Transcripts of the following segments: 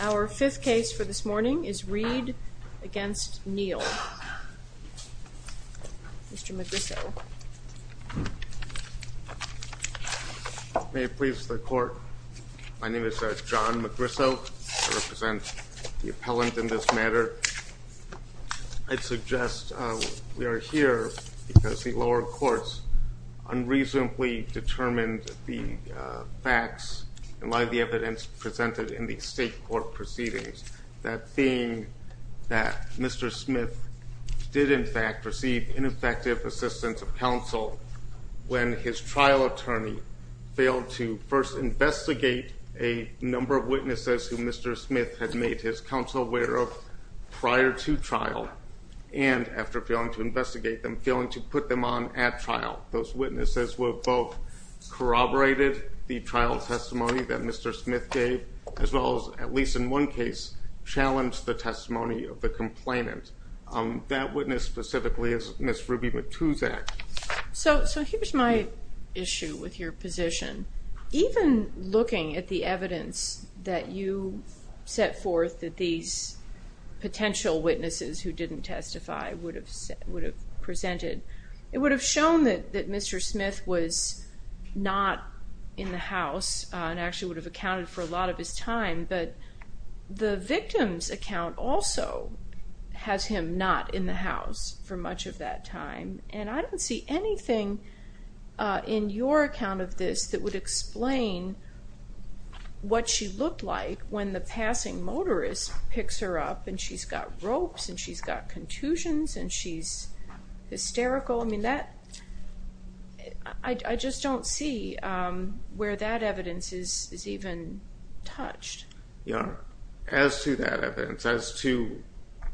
Our fifth case for this morning is Reed v. Neal. Mr. Magrisso. May it please the court, my name is John Magrisso. I represent the appellant in this matter. I'd suggest we are here because the lower courts unreasonably determined the facts and lie the evidence presented in the state court proceedings. That being that Mr. Smith did in fact receive ineffective assistance of counsel when his trial attorney failed to first investigate a number of witnesses who Mr. Smith had made his counsel aware of prior to trial and, after failing to investigate them, failing to put them on at trial. Those witnesses were both corroborated the trial testimony that Mr. Smith gave as well as, at least in one case, challenged the testimony of the complainant. That witness specifically is Ms. Ruby Matusak. So here's my issue with your position. Even looking at the evidence that you set forth that these potential witnesses who didn't testify would have presented, it would have shown that Mr. Smith was not in the house and actually would have accounted for a lot of his time, but the victim's account also has him not in the house for much of that time and I don't see anything in your account of this that would explain what she looked like when the passing motorist picks her up and she's got ropes and she's got contusions and she's hysterical. I mean, I just don't see where that evidence is even touched. As to that evidence, as to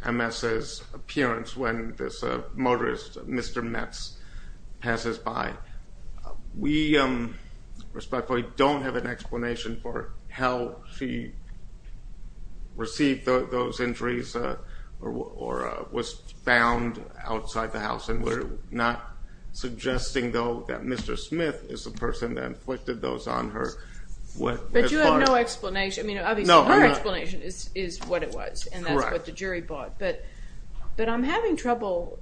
Ms.'s appearance when this motorist, Mr. Metz, passes by, we respectfully don't have an explanation for how she received those injuries or was found outside the house and we're not suggesting, though, that Mr. Smith is the person that inflicted those on her. But you have no explanation. I mean, obviously her explanation is what it was and that's what the jury bought, but I'm having trouble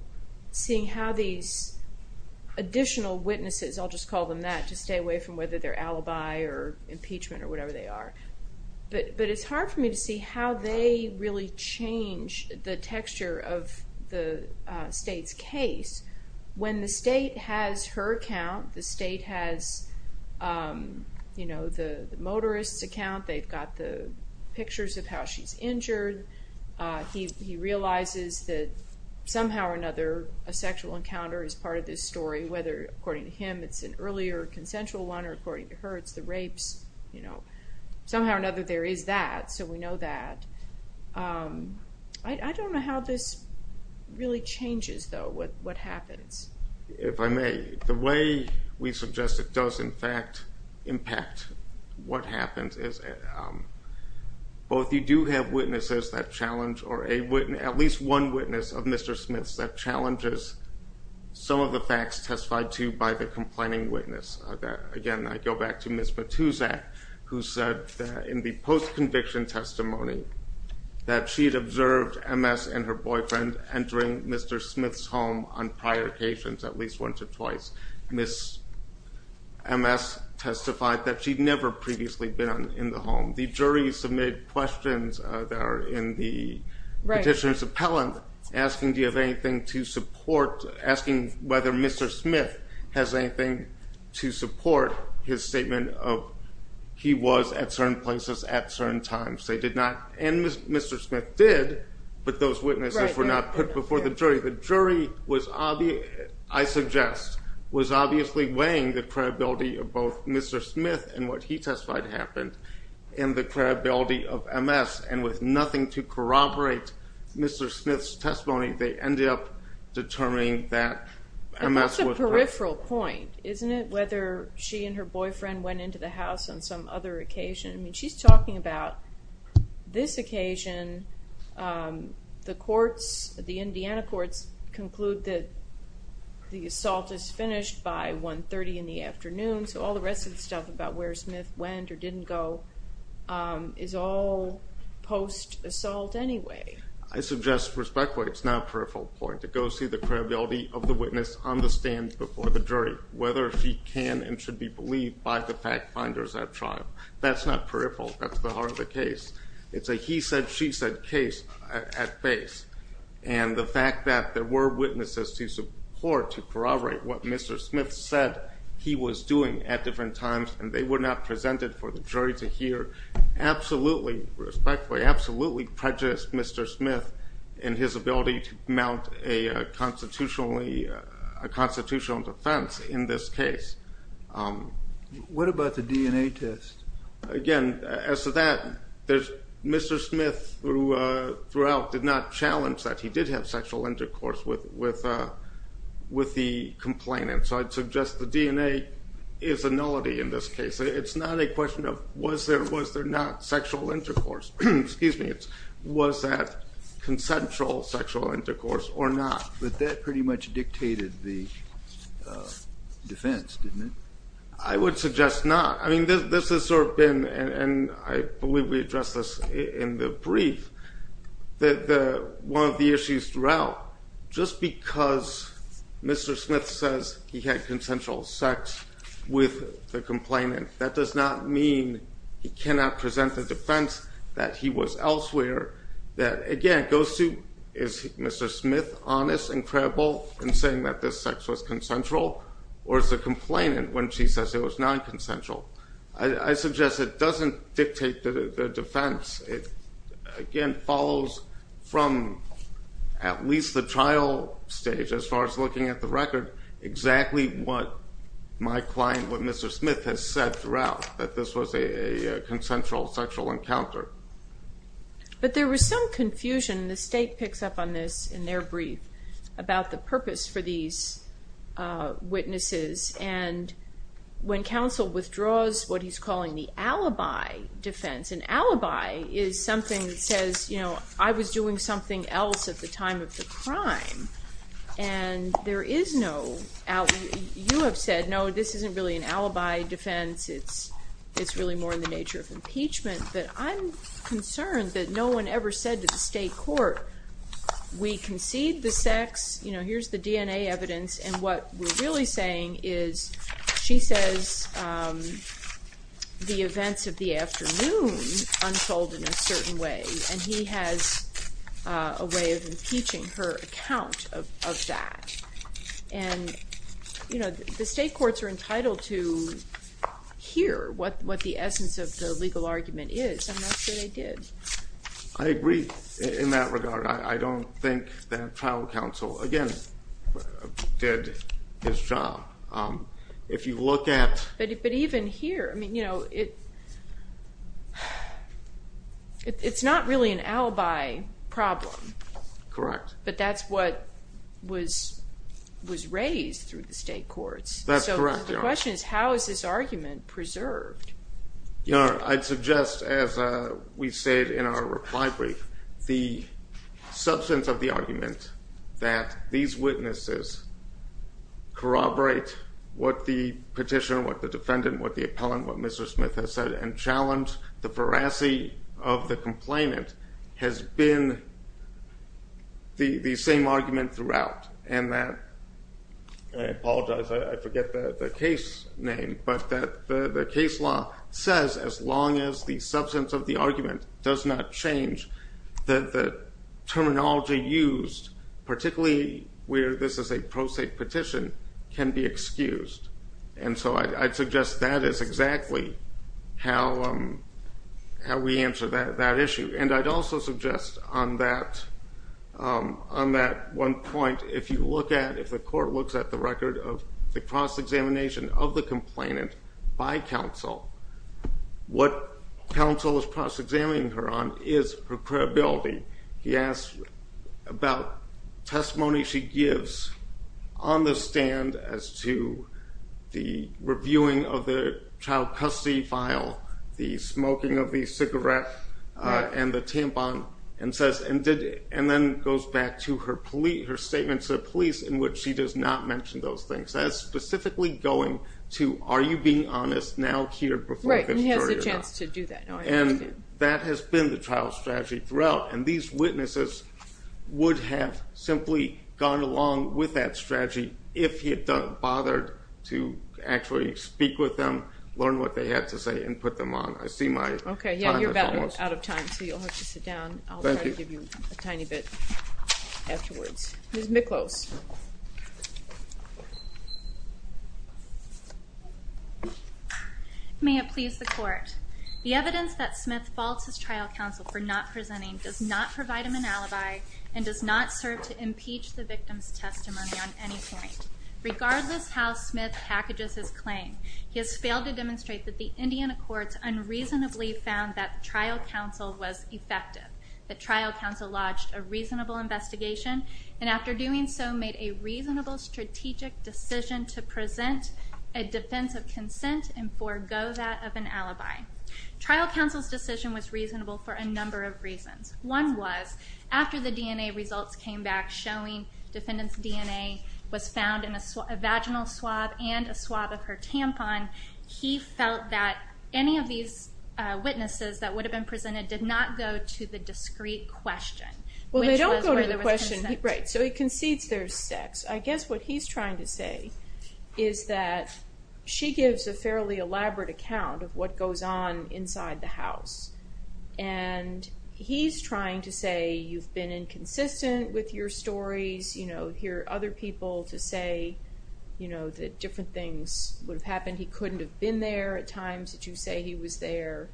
seeing how these additional witnesses, I'll just call them that, to stay away from whether they're alibi or impeachment or whatever they are, but it's hard for me to see how they really change the texture of the state's case. When the state has her account, the state has the motorist's account, they've got the pictures of how she's injured, he realizes that somehow or another a sexual encounter is part of this story, whether according to him it's an earlier consensual one or according to her it's the rapes. Somehow or another there is that, so we know that. I don't know how this really changes, though, what happens. If I may, the way we suggest it does in fact impact what happens is both you do have witnesses that challenge, or at least one witness of Mr. Smith's that challenges some of the facts testified to by the complaining witness. Again, I go back to Ms. Matusak who said that in the post-conviction testimony that she had observed MS and her boyfriend entering Mr. Smith's home on prior occasions, at least once or twice, Ms. MS testified that she'd never previously been in the home. The jury submitted questions that are in the petitioner's appellant asking do you have anything to support, asking whether Mr. Smith has anything to support his statement of he was at certain places at certain times. They did not, and Mr. Smith did, but those witnesses were not put before the jury. The jury, I suggest, was obviously weighing the credibility of both Mr. Smith and what he testified happened and the credibility of MS, and with nothing to corroborate Mr. Smith's testimony, they ended up determining that MS was present. But that's a peripheral point, isn't it? Whether she and her boyfriend went into the house on some other occasion. I mean, she's talking about this occasion, the courts, the Indiana courts, conclude that the assault is finished by 1.30 in the afternoon, so all the rest of the stuff about where Smith went or didn't go is all post-assault anyway. I suggest, respectfully, it's now a peripheral point to go see the credibility of the witness on the stand before the jury, whether she can and should be believed by the fact finders at trial. That's not peripheral. That's the heart of the case. It's a he said, she said case at base, and the fact that there were witnesses to support, to corroborate what Mr. Smith said he was doing at different times, and they were not presented for the jury to hear, absolutely, respectfully, absolutely prejudiced Mr. Smith in his ability to mount a constitutional defense in this case. What about the DNA test? Again, as to that, Mr. Smith throughout did not challenge that he did have sexual intercourse with the complainant, so I'd suggest the DNA is a nullity in this case. It's not a question of was there or was there not sexual intercourse. Was that consensual sexual intercourse or not? But that pretty much dictated the defense, didn't it? I would suggest not. I mean, this has sort of been, and I believe we addressed this in the brief, one of the issues throughout, just because Mr. Smith says he had consensual sex with the complainant, that does not mean he cannot present the defense that he was elsewhere. Again, it goes to is Mr. Smith honest and credible in saying that this sex was consensual, or is the complainant when she says it was nonconsensual? I suggest it doesn't dictate the defense. It, again, follows from at least the trial stage as far as looking at the record exactly what my client, what Mr. Smith has said throughout, that this was a consensual sexual encounter. But there was some confusion, and the State picks up on this in their brief, about the purpose for these witnesses. And when counsel withdraws what he's calling the alibi defense, an alibi is something that says, you know, I was doing something else at the time of the crime, and there is no alibi. You have said, no, this isn't really an alibi defense. It's really more in the nature of impeachment. But I'm concerned that no one ever said to the State Court, we concede the sex, you know, here's the DNA evidence, and what we're really saying is, she says the events of the afternoon unfold in a certain way, and he has a way of impeaching her account of that. And, you know, the State courts are entitled to hear what the essence of the legal argument is. I'm not sure they did. I agree in that regard. I don't think that trial counsel, again, did his job. But even here, I mean, you know, it's not really an alibi problem. Correct. But that's what was raised through the State courts. That's correct. So the question is, how is this argument preserved? I'd suggest, as we said in our reply brief, the substance of the argument that these witnesses corroborate what the petitioner, what the defendant, what the appellant, what Mr. Smith has said, and challenge the veracity of the complainant has been the same argument throughout. And that, I apologize, I forget the case name, but that the case law says as long as the substance of the argument does not change, that the terminology used, particularly where this is a pro se petition, can be excused. And so I'd suggest that is exactly how we answer that issue. And I'd also suggest on that one point, if you look at, if the court looks at the record of the cross-examination of the complainant by counsel, what counsel is cross-examining her on is her credibility. He asks about testimony she gives on the stand as to the reviewing of the child custody file, the smoking of the cigarette, and the tampon, and says, and then goes back to her statement to the police in which she does not mention those things. That is specifically going to are you being honest, now, here, before Fifth Jury or not. Right, and he has a chance to do that. And that has been the trial strategy throughout. And these witnesses would have simply gone along with that strategy if he had bothered to actually speak with them, learn what they had to say, and put them on. I see my time is almost up. Okay, yeah, you're about out of time, so you'll have to sit down. I'll try to give you a tiny bit afterwards. Ms. Miklos. May it please the Court. The evidence that Smith faults his trial counsel for not presenting does not provide him an alibi and does not serve to impeach the victim's testimony on any point. Regardless how Smith packages his claim, he has failed to demonstrate that the Indian Accords unreasonably found that trial counsel was effective, that trial counsel lodged a reasonable investigation, and after doing so made a reasonable strategic decision to present a defense of consent and forego that of an alibi. Trial counsel's decision was reasonable for a number of reasons. One was after the DNA results came back showing defendant's DNA was found in a vaginal swab and a swab of her tampon, he felt that any of these witnesses that would have been presented did not go to the discrete question, which was where there was consent. Well, they don't go to the question. Right, so he concedes there's sex. I guess what he's trying to say is that she gives a fairly elaborate account of what goes on inside the house, and he's trying to say you've been inconsistent with your stories, hear other people to say that different things would have happened, he couldn't have been there at times, that you say he was there.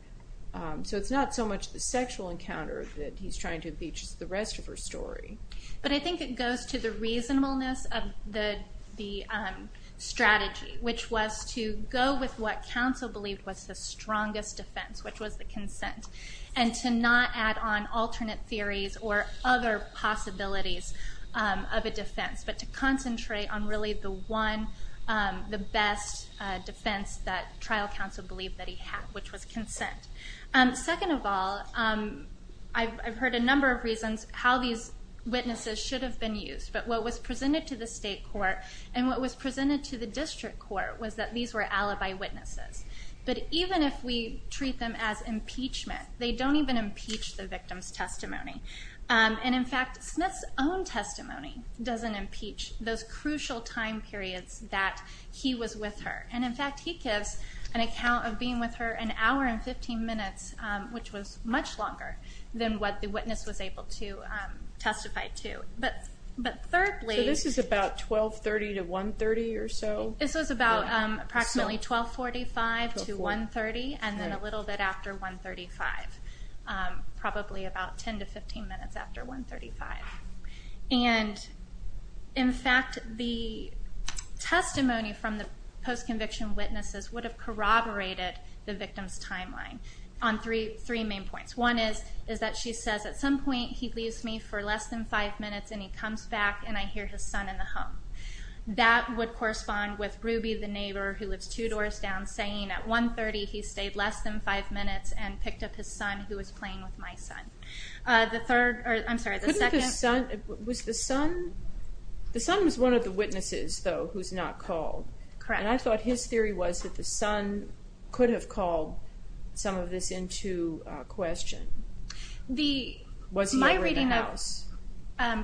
So it's not so much the sexual encounter that he's trying to impeach as the rest of her story. But I think it goes to the reasonableness of the strategy, which was to go with what counsel believed was the strongest defense, which was the consent, and to not add on alternate theories or other possibilities of a defense, but to concentrate on really the one, the best defense that trial counsel believed that he had, which was consent. Second of all, I've heard a number of reasons how these witnesses should have been used, but what was presented to the state court and what was presented to the district court was that these were alibi witnesses. But even if we treat them as impeachment, they don't even impeach the victim's testimony. And, in fact, Smith's own testimony doesn't impeach those crucial time periods that he was with her. And, in fact, he gives an account of being with her an hour and 15 minutes, which was much longer than what the witness was able to testify to. But thirdly... So this is about 1230 to 130 or so? This was about approximately 1245 to 130, and then a little bit after 135, probably about 10 to 15 minutes after 135. And, in fact, the testimony from the post-conviction witnesses would have corroborated the victim's timeline on three main points. One is that she says, at some point, he leaves me for less than five minutes, and he comes back, and I hear his son in the home. That would correspond with Ruby, the neighbor, who lives two doors down, saying, at 130, he stayed less than five minutes and picked up his son, who was playing with my son. The third, or I'm sorry, the second... Couldn't the son... Was the son... The son was one of the witnesses, though, who's not called. Correct. And I thought his theory was that the son could have called some of this into question. The... Was he over in the house?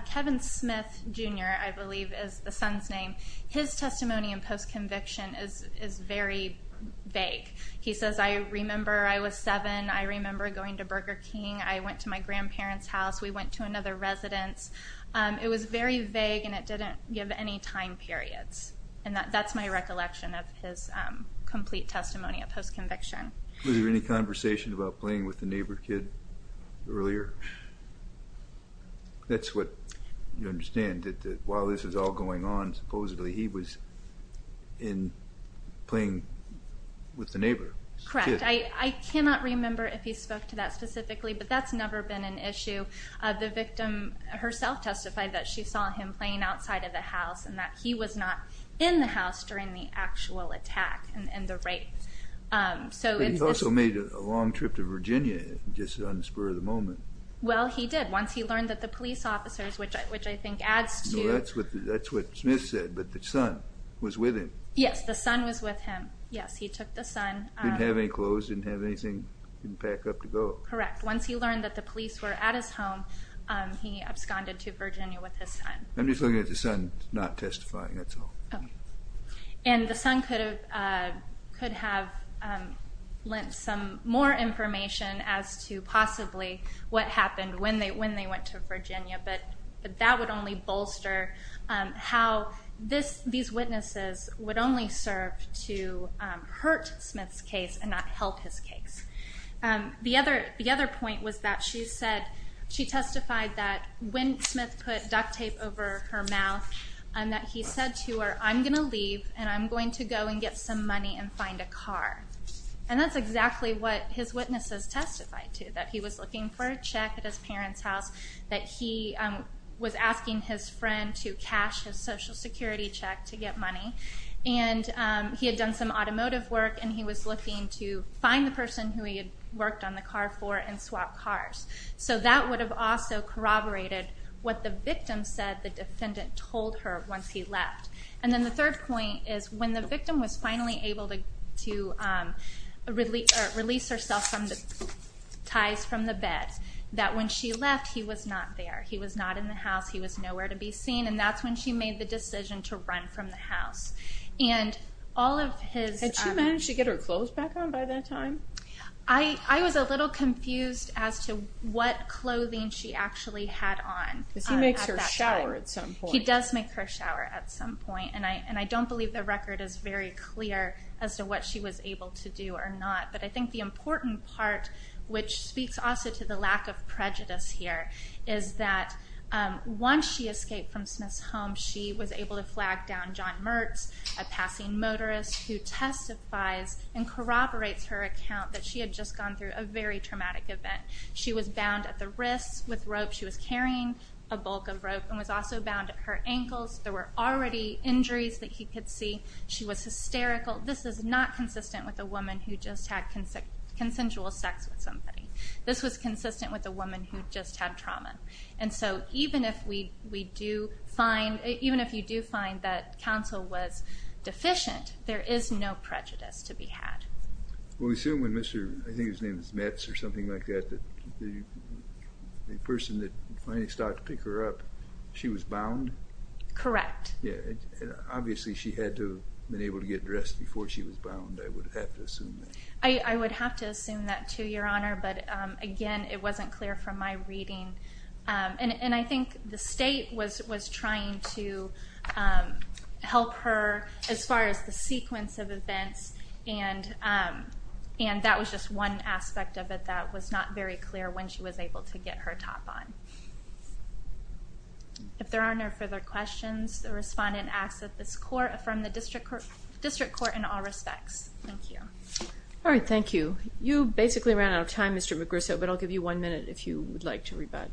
Kevin Smith, Jr., I believe, is the son's name. His testimony in post-conviction is very vague. He says, I remember I was seven. I remember going to Burger King. I went to my grandparents' house. We went to another residence. It was very vague, and it didn't give any time periods. And that's my recollection of his complete testimony of post-conviction. Was there any conversation about playing with the neighbor kid earlier? That's what you understand, that while this was all going on, supposedly he was playing with the neighbor kid. Correct. I cannot remember if he spoke to that specifically, but that's never been an issue. The victim herself testified that she saw him playing outside of the house and that he was not in the house during the actual attack and the rape. But he also made a long trip to Virginia just on the spur of the moment. Well, he did once he learned that the police officers, which I think adds to... No, that's what Smith said, but the son was with him. Yes, the son was with him. Yes, he took the son. Didn't have any clothes, didn't have anything, didn't pack up to go. Correct. Once he learned that the police were at his home, he absconded to Virginia with his son. I'm just looking at the son not testifying, that's all. And the son could have lent some more information as to possibly what happened when they went to Virginia, but that would only bolster how these witnesses would only serve to hurt Smith's case and not help his case. The other point was that she testified that when Smith put duct tape over her mouth that he said to her, I'm going to leave and I'm going to go and get some money and find a car. And that's exactly what his witnesses testified to, that he was looking for a check at his parents' house, that he was asking his friend to cash his Social Security check to get money, and he had done some automotive work and he was looking to find the person who he had worked on the car for and swap cars. So that would have also corroborated what the victim said the defendant told her once he left. And then the third point is when the victim was finally able to release herself from the ties from the bed, that when she left, he was not there. He was not in the house. He was nowhere to be seen. And that's when she made the decision to run from the house. Had she managed to get her clothes back on by that time? I was a little confused as to what clothing she actually had on. Because he makes her shower at some point. He does make her shower at some point, and I don't believe the record is very clear as to what she was able to do or not. But I think the important part, which speaks also to the lack of prejudice here, is that once she escaped from Smith's home, she was able to flag down John Mertz, a passing motorist, who testifies and corroborates her account that she had just gone through a very traumatic event. She was bound at the wrists with rope. She was carrying a bulk of rope and was also bound at her ankles. There were already injuries that he could see. She was hysterical. This is not consistent with a woman who just had consensual sex with somebody. This was consistent with a woman who just had trauma. Even if you do find that counsel was deficient, there is no prejudice to be had. We assume when Mr. I think his name is Mertz or something like that, the person that finally started to pick her up, she was bound? Correct. Obviously she had to have been able to get dressed before she was bound. I would have to assume that. I would have to assume that too, Your Honor. Again, it wasn't clear from my reading. I think the state was trying to help her as far as the sequence of events, and that was just one aspect of it that was not very clear when she was able to get her top on. If there are no further questions, the respondent asks that this court affirm the district court in all respects. Thank you. All right. Thank you. You basically ran out of time, Mr. Magruso, but I'll give you one minute if you would like to rebut.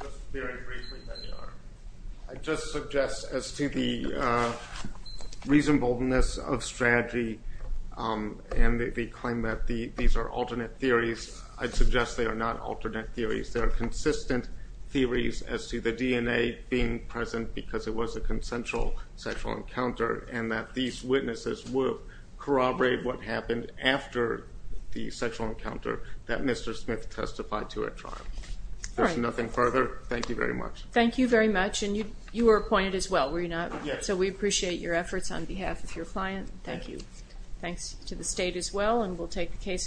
Just very briefly, Your Honor. I just suggest as to the reasonableness of strategy and the claim that these are alternate theories, I'd suggest they are not alternate theories. They are consistent theories as to the DNA being present because it was a consensual sexual encounter and that these witnesses will corroborate what happened after the sexual encounter that Mr. Smith testified to at trial. If there's nothing further, thank you very much. Thank you very much. And you were appointed as well, were you not? Yes. So we appreciate your efforts on behalf of your client. Thank you. Thanks to the state as well, and we'll take the case on.